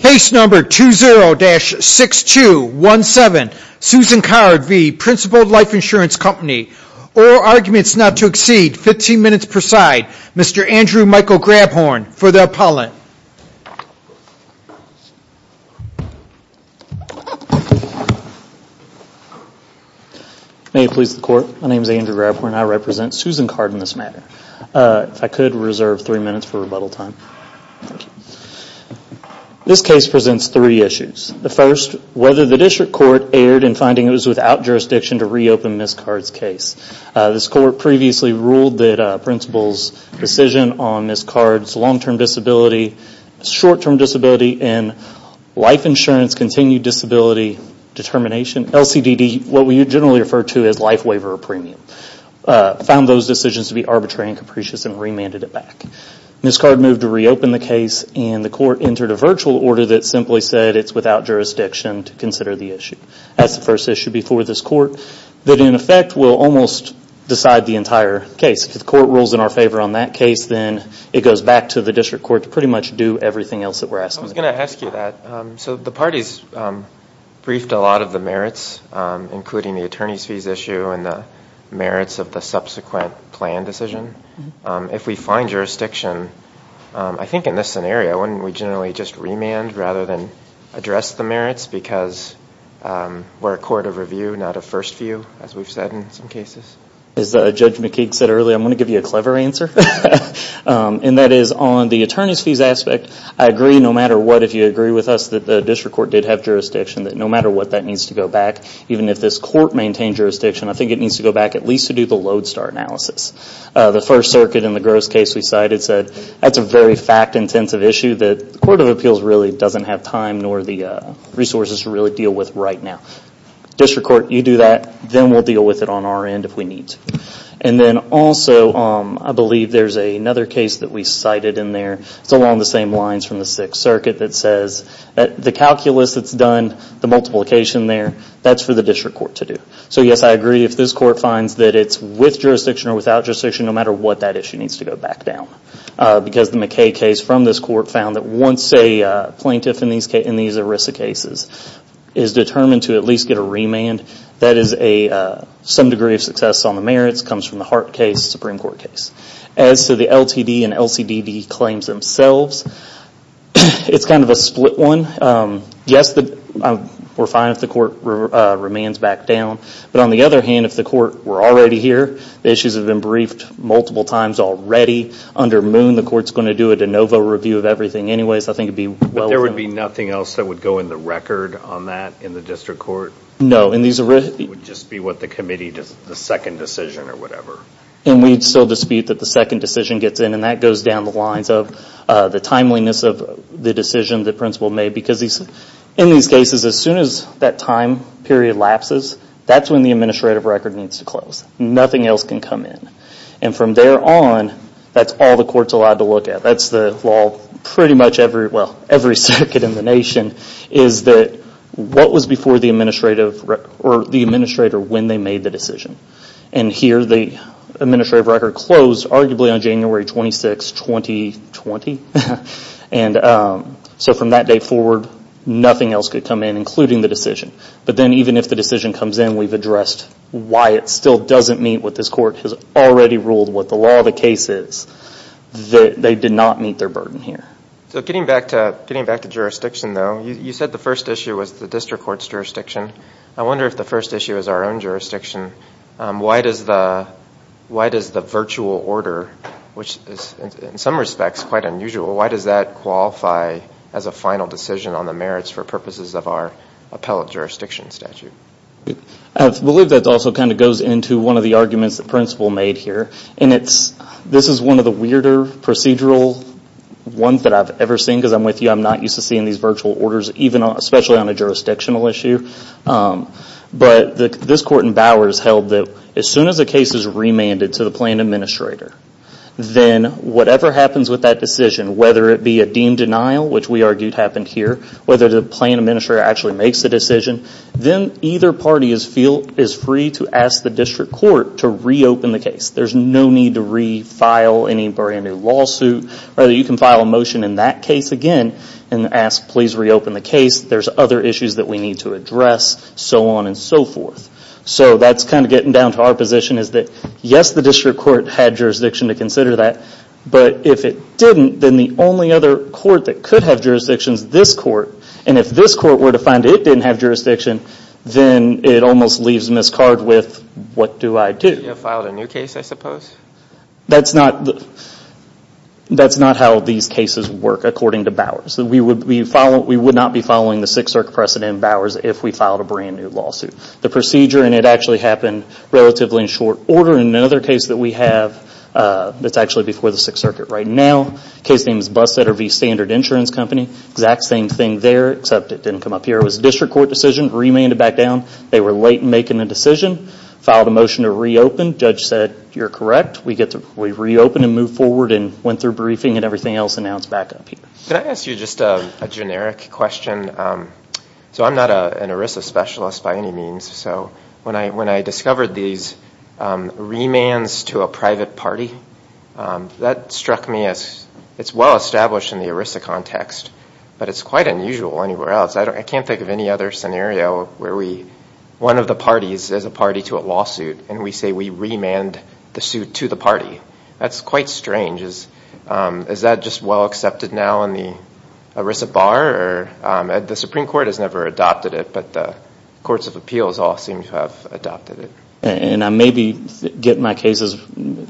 Case number 20-6217, Susan Card v. Principal Life Insurance Company, oral arguments not to exceed 15 minutes per side, Mr. Andrew Michael Grabhorn for the appellant. May it please the court. My name is Andrew Grabhorn. I represent Susan Card in this matter. If I could reserve three minutes for rebuttal time. This case presents three issues. The first, whether the district court erred in finding it was without jurisdiction to reopen Ms. Card's case. This court previously ruled that Principal's decision on Ms. Card's long-term disability, short-term disability and life insurance continued disability determination, LCDD, what we generally Ms. Card moved to reopen the case and the court entered a virtual order that simply said it's without jurisdiction to consider the issue. That's the first issue before this court that in effect will almost decide the entire case. If the court rules in our favor on that case, then it goes back to the district court to pretty much do everything else that we're asking. I was going to ask you that. The parties briefed a lot of the merits, including the attorney's fees issue and the merits of the subsequent plan decision. If we find jurisdiction, I think in this scenario, wouldn't we generally just remand rather than address the merits because we're a court of review, not a first view, as we've said in some cases? As Judge McKeague said earlier, I'm going to give you a clever answer. That is, on the attorney's fees aspect, I agree no matter what if you agree with us that the district court did have jurisdiction, that no matter what that needs to go back, even if this court maintained jurisdiction, I think it needs to go back at least to do the lodestar analysis. The first circuit in the gross case we cited said that's a very fact-intensive issue that the Court of Appeals really doesn't have time nor the resources to really deal with right now. District court, you do that, then we'll deal with it on our end if we need to. Then also, I believe there's another case that we cited in there. It's along the same lines from the Sixth Circuit that says that the calculus that's done, the multiplication there, that's for the district court to do. Yes, I agree if this court finds that it's with jurisdiction or without jurisdiction, no matter what that issue needs to go back down because the McKeague case from this court found that once a plaintiff in these ERISA cases is determined to at least get a remand, that is some degree of success on the merits, comes from the Hart case, Supreme Court case. As to the LTD and LCDD claims themselves, it's kind of a split one. Yes, we're fine if the court remands back down, but on the other hand, if the court were already here, the issues have been briefed multiple times already. Under Moon, the court's going to do a de novo review of everything anyways. I think it'd be well worth it. There would be nothing else that would go in the record on that in the district court? No. It would just be what the committee, the second decision or whatever. We'd still dispute that the second decision gets in and that goes down the lines of the In these cases, as soon as that time period lapses, that's when the administrative record needs to close. Nothing else can come in. From there on, that's all the court's allowed to look at. That's the law pretty much every circuit in the nation is that what was before the administrator when they made the decision. Here the administrative record closed arguably on January 26, 2020. And so from that day forward, nothing else could come in including the decision. But then even if the decision comes in, we've addressed why it still doesn't meet what this court has already ruled what the law of the case is, that they did not meet their burden here. Getting back to jurisdiction though, you said the first issue was the district court's jurisdiction. I wonder if the first issue is our own jurisdiction. Why does the virtual order, which in some respects is quite unusual, why does that qualify as a final decision on the merits for purposes of our appellate jurisdiction statute? I believe that also kind of goes into one of the arguments that the principal made here. This is one of the weirder procedural ones that I've ever seen because I'm with you. I'm not used to seeing these virtual orders, especially on a jurisdictional issue. But this court in Bowers held that as soon as a case is remanded to the plan administrator, then whatever happens with that decision, whether it be a deemed denial, which we argued happened here, whether the plan administrator actually makes the decision, then either party is free to ask the district court to reopen the case. There's no need to refile any brand new lawsuit. You can file a motion in that case again and ask, please reopen the case. There's other issues that we need to address, so on and so forth. That's kind of getting down to our position is that, yes, the district court had jurisdiction to consider that, but if it didn't, then the only other court that could have jurisdiction is this court. If this court were to find it didn't have jurisdiction, then it almost leaves Ms. Card with, what do I do? You filed a new case, I suppose? That's not how these cases work, according to Bowers. We would not be following the Sixth Circuit precedent, Bowers, if we filed a brand new lawsuit. The procedure, and it actually happened relatively in short order, in another case that we have that's actually before the Sixth Circuit right now, the case name is Bustetter v. Standard Insurance Company. The exact same thing there, except it didn't come up here. It was a district court decision, remanded back down. They were late in making the decision, filed a motion to reopen. Judge said, you're correct. We reopened and moved forward and went through briefing and everything else, and now it's back up here. Can I ask you just a generic question? So I'm not an ERISA specialist by any means, so when I discovered these remands to a private party, that struck me as, it's well established in the ERISA context, but it's quite unusual anywhere else. I can't think of any other scenario where one of the parties is a party to a lawsuit and we say we remand the suit to the party. That's quite strange. Is that just well accepted now in the ERISA bar? The Supreme Court has never adopted it, but the courts of appeals all seem to have adopted it. I may be getting my cases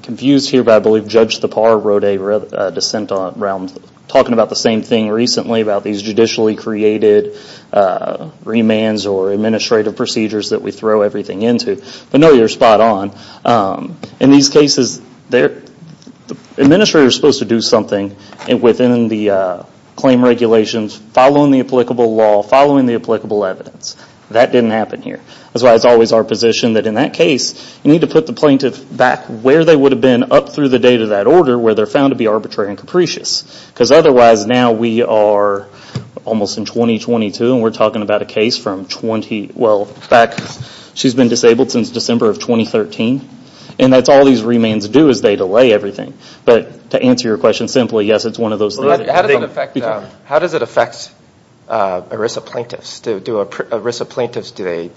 confused here, but I believe Judge Thapar wrote a dissent around talking about the same thing recently, about these judicially created remands or administrative procedures that we throw everything into, but no, you're spot on. In these cases, the administrator is supposed to do something within the claim regulations, following the applicable law, following the applicable evidence. That didn't happen here. That's why it's always our position that in that case, you need to put the plaintiff back where they would have been up through the date of that order, where they're found to be arbitrary and capricious, because otherwise now we are almost in 2022 and we're talking about a case from 20, well back, she's been disabled since December of 2013 and that's all these remands do is they delay everything, but to answer your question simply, yes, it's one of those things. How does it affect ERISA plaintiffs? Do ERISA plaintiffs, do they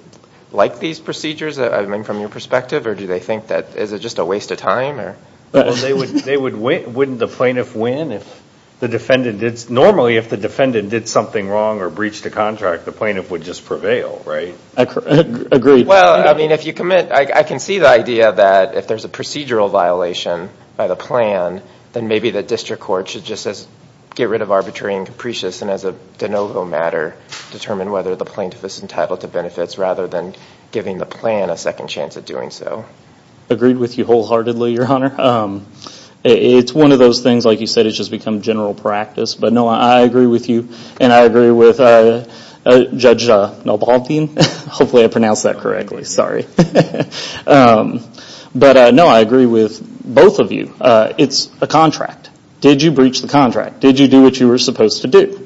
like these procedures from your perspective or do they think that is it just a waste of time? Wouldn't the plaintiff win if the defendant did, normally if the defendant did something wrong or breached a contract, the plaintiff would just prevail, right? Agreed. Well, I mean, if you commit, I can see the idea that if there's a procedural violation by the plan, then maybe the district court should just as get rid of arbitrary and capricious and as a de novo matter, determine whether the plaintiff is entitled to benefits rather than giving the plan a second chance at doing so. Agreed with you wholeheartedly, your honor. It's one of those things, like you said, it's just become general practice, but no, I agree with you and I agree with Judge Nalbalthien, hopefully I pronounced that correctly, sorry. But no, I agree with both of you. It's a contract. Did you breach the contract? Did you do what you were supposed to do?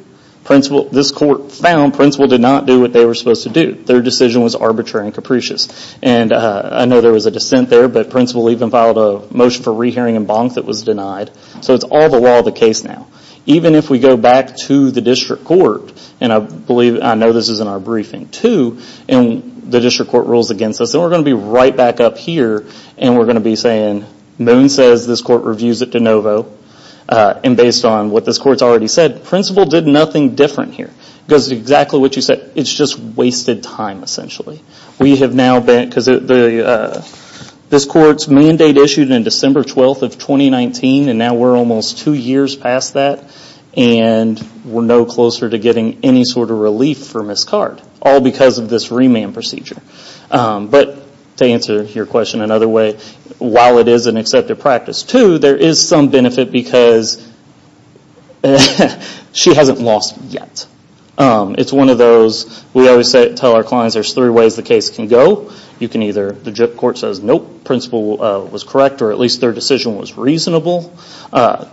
This court found Principal did not do what they were supposed to do. Their decision was arbitrary and capricious. And I know there was a dissent there, but Principal even filed a motion for re-hearing in Bonk that was denied. So it's all the law of the case now. Even if we go back to the district court, and I know this is in our briefing too, and the district court rules against us, then we're going to be right back up here and we're going to be saying, Moon says this court reviews it de novo, and based on what this court's already said, Principal did nothing different here. Because exactly what you said, it's just wasted time essentially. This court's mandate issued in December 12th of 2019 and now we're almost two years past that and we're no closer to getting any sort of relief for Ms. Card. All because of this remand procedure. But to answer your question another way, while it is an accepted practice too, there is some benefit because she hasn't lost yet. It's one of those, we always tell our clients there's three ways the case can go. You can either, the district court says, nope, Principal was correct, or at least their decision was reasonable.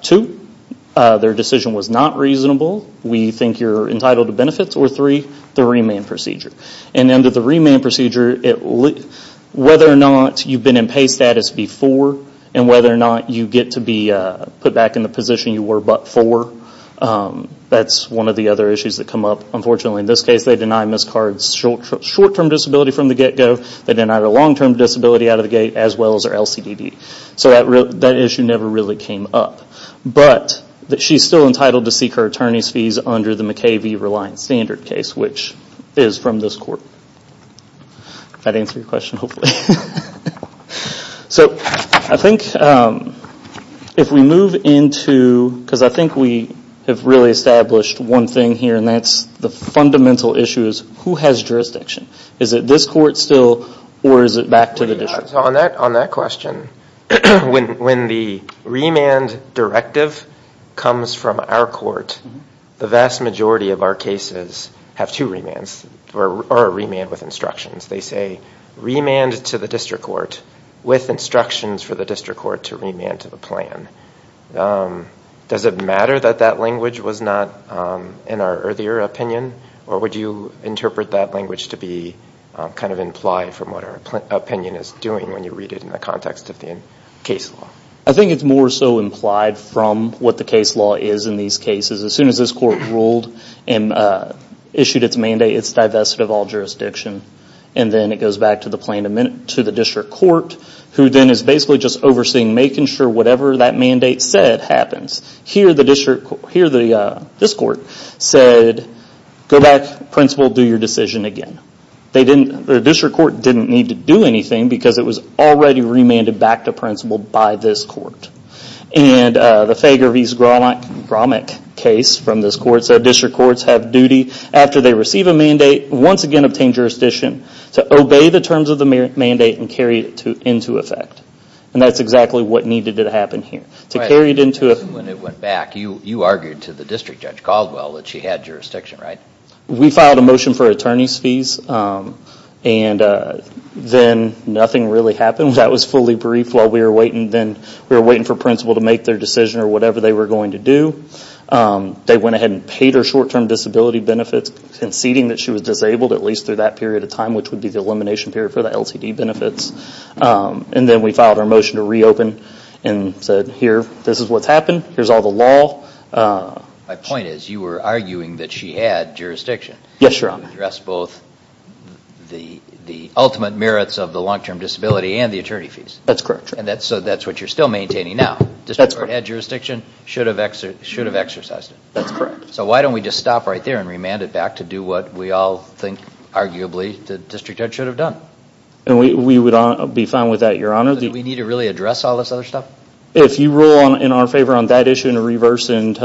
Two, their decision was not reasonable, we think you're entitled to benefits, or three, the remand procedure. And under the remand procedure, whether or not you've been in pay status before and whether or not you get to be put back in the position you were before, that's one of the other issues that come up. Unfortunately in this case, they deny Ms. Card's short term disability from the get go. They deny her long term disability out of the gate as well as her LCDD. So that issue never really came up. But she's still entitled to seek her attorney's fees under the McKay v. Reliance standard case, which is from this court. That answer your question, hopefully? So I think if we move into, because I think we have really established one thing here, and that's the fundamental issue is who has jurisdiction? Is it this court still, or is it back to the district? On that question, when the remand directive comes from our court, the vast majority of our cases have two remands, or a remand with instructions. They say remand to the district court with instructions for the district court to remand to the plan. Does it matter that that language was not in our earlier opinion, or would you interpret that language to be implied from what our opinion is doing when you read it in the context of the case law? I think it's more so implied from what the case law is in these cases. As soon as this court ruled and issued its mandate, it's divested of all jurisdiction. And then it goes back to the district court, who then is basically just overseeing, making sure whatever that mandate said happens. Here this court said, go back, principal, do your decision again. The district court didn't need to do anything because it was already remanded back to principal by this court. And the Fager v. Zgromick case from this court said district courts have duty, after they receive a mandate, once again obtain jurisdiction to obey the terms of the mandate and carry it into effect. And that's exactly what needed to happen here. When it went back, you argued to the district judge, Caldwell, that she had jurisdiction, right? We filed a motion for attorney's fees, and then nothing really happened. That was fully briefed while we were waiting for principal to make their decision or whatever they were going to do. They went ahead and paid her short-term disability benefits, conceding that she was disabled at least through that period of time, which would be the elimination period for the LCD benefits. And then we filed our motion to reopen and said, here, this is what's happened, here's all the law. My point is, you were arguing that she had jurisdiction to address both the ultimate merits of the long-term disability and the attorney fees. That's correct. So that's what you're still maintaining now. That's correct. The district court had jurisdiction, should have exercised it. That's correct. So why don't we just stop right there and remand it back to do what we all think, arguably, the district judge should have done? We would be fine with that, Your Honor. Do we need to really address all this other stuff? If you rule in our favor on that issue and reverse and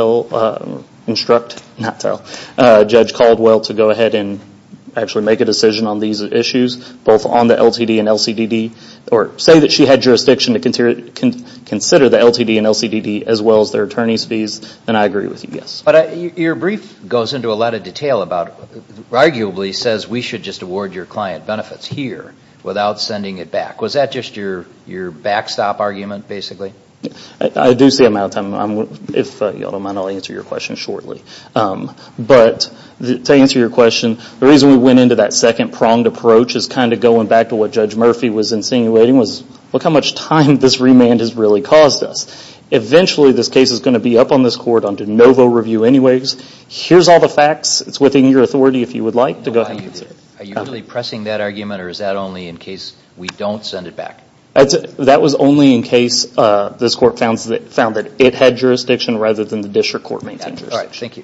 instruct Judge Caldwell to go ahead and actually make a decision on these issues, both on the LTD and LCDD, or say that she had jurisdiction to consider the LTD and LCDD as well as their attorney's fees, then I agree with you, yes. Your brief goes into a lot of detail about, arguably, says we should just award your client benefits here without sending it back. Was that just your backstop argument, basically? I do see I'm out of time. If you all don't mind, I'll answer your question shortly. But to answer your question, the reason we went into that second pronged approach is kind of going back to what Judge Murphy was insinuating was, look how much time this remand has really caused us. Eventually, this case is going to be up on this court on de novo review anyways. Here's all the facts. It's within your authority, if you would like, to go ahead and consider it. Are you really pressing that argument, or is that only in case we don't send it back? That was only in case this court found that it had jurisdiction rather than the district court maintaining jurisdiction. All right, thank you.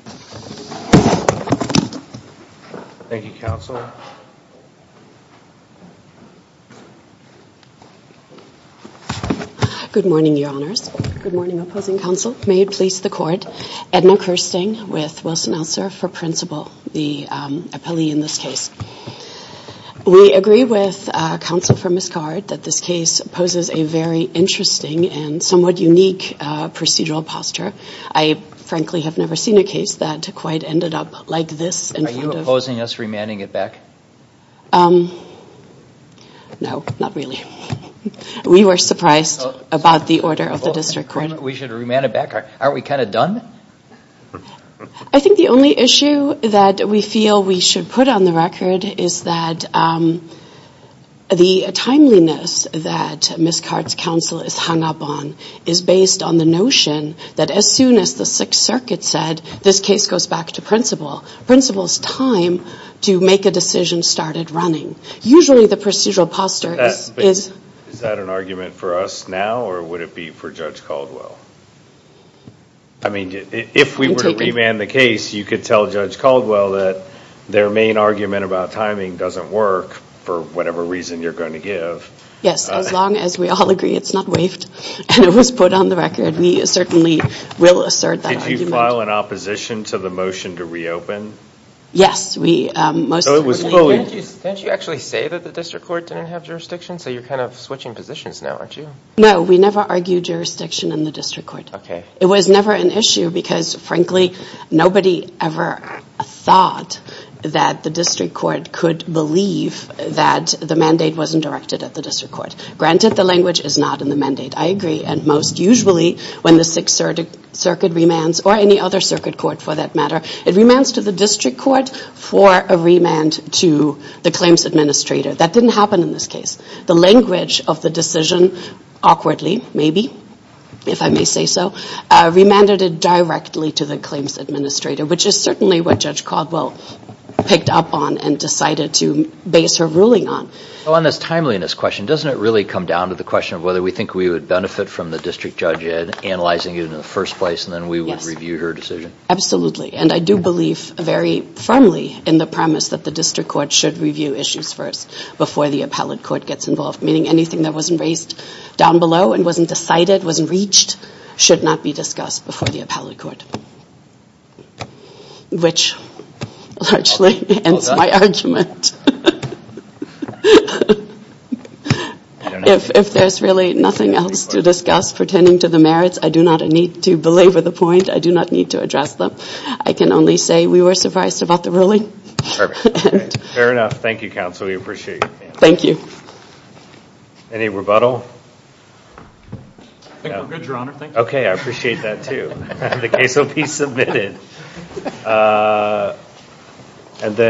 Thank you, counsel. Good morning, your honors. Good morning, opposing counsel. May it please the court. Edna Kirsting with Wilson-Elser for principle, the appellee in this case. We agree with counsel for Ms. Card that this case poses a very interesting and somewhat unique procedural posture. I frankly have never seen a case that quite ended up like this in front of- Are you opposing us remanding it back? No, not really. We were surprised about the order of the district court. Aren't we kind of done? I think the only issue that we feel we should put on the record is that the timeliness that Ms. Card's counsel is hung up on is based on the notion that as soon as the Sixth Circuit said this case goes back to principle, principle's time to make a decision started running. Usually the procedural posture is- Is that an argument for us now, or would it be for Judge Caldwell? I mean, if we were to remand the case, you could tell Judge Caldwell that their main argument about timing doesn't work for whatever reason you're going to give. Yes, as long as we all agree it's not waived and it was put on the record, we certainly will assert that argument. Did you file an opposition to the motion to reopen? Yes, we- So it was fully- Didn't you actually say that the district court didn't have jurisdiction, so you're kind of switching positions now, aren't you? No, we never argued jurisdiction in the district court. It was never an issue because, frankly, nobody ever thought that the district court could believe that the mandate wasn't directed at the district court. Granted, the language is not in the mandate, I agree, and most usually when the Sixth Circuit remands, or any other circuit court for that matter, it remands to the district court for a remand to the claims administrator. That didn't happen in this case. The language of the decision, awkwardly, maybe, if I may say so, remanded it directly to the claims administrator, which is certainly what Judge Caldwell picked up on and decided to base her ruling on. On this timeliness question, doesn't it really come down to the question of whether we think we would benefit from the district judge analyzing it in the first place and then we would review her decision? Absolutely, and I do believe very firmly in the premise that the district court should get involved, meaning anything that wasn't raised down below and wasn't decided, wasn't reached, should not be discussed before the appellate court, which largely ends my argument. If there's really nothing else to discuss pertaining to the merits, I do not need to belabor the point. I do not need to address them. I can only say we were surprised about the ruling. Fair enough. Thank you, counsel. We appreciate it. Thank you. Any rebuttal? I think we're good, your honor. Thank you. Okay, I appreciate that, too. The case will be submitted.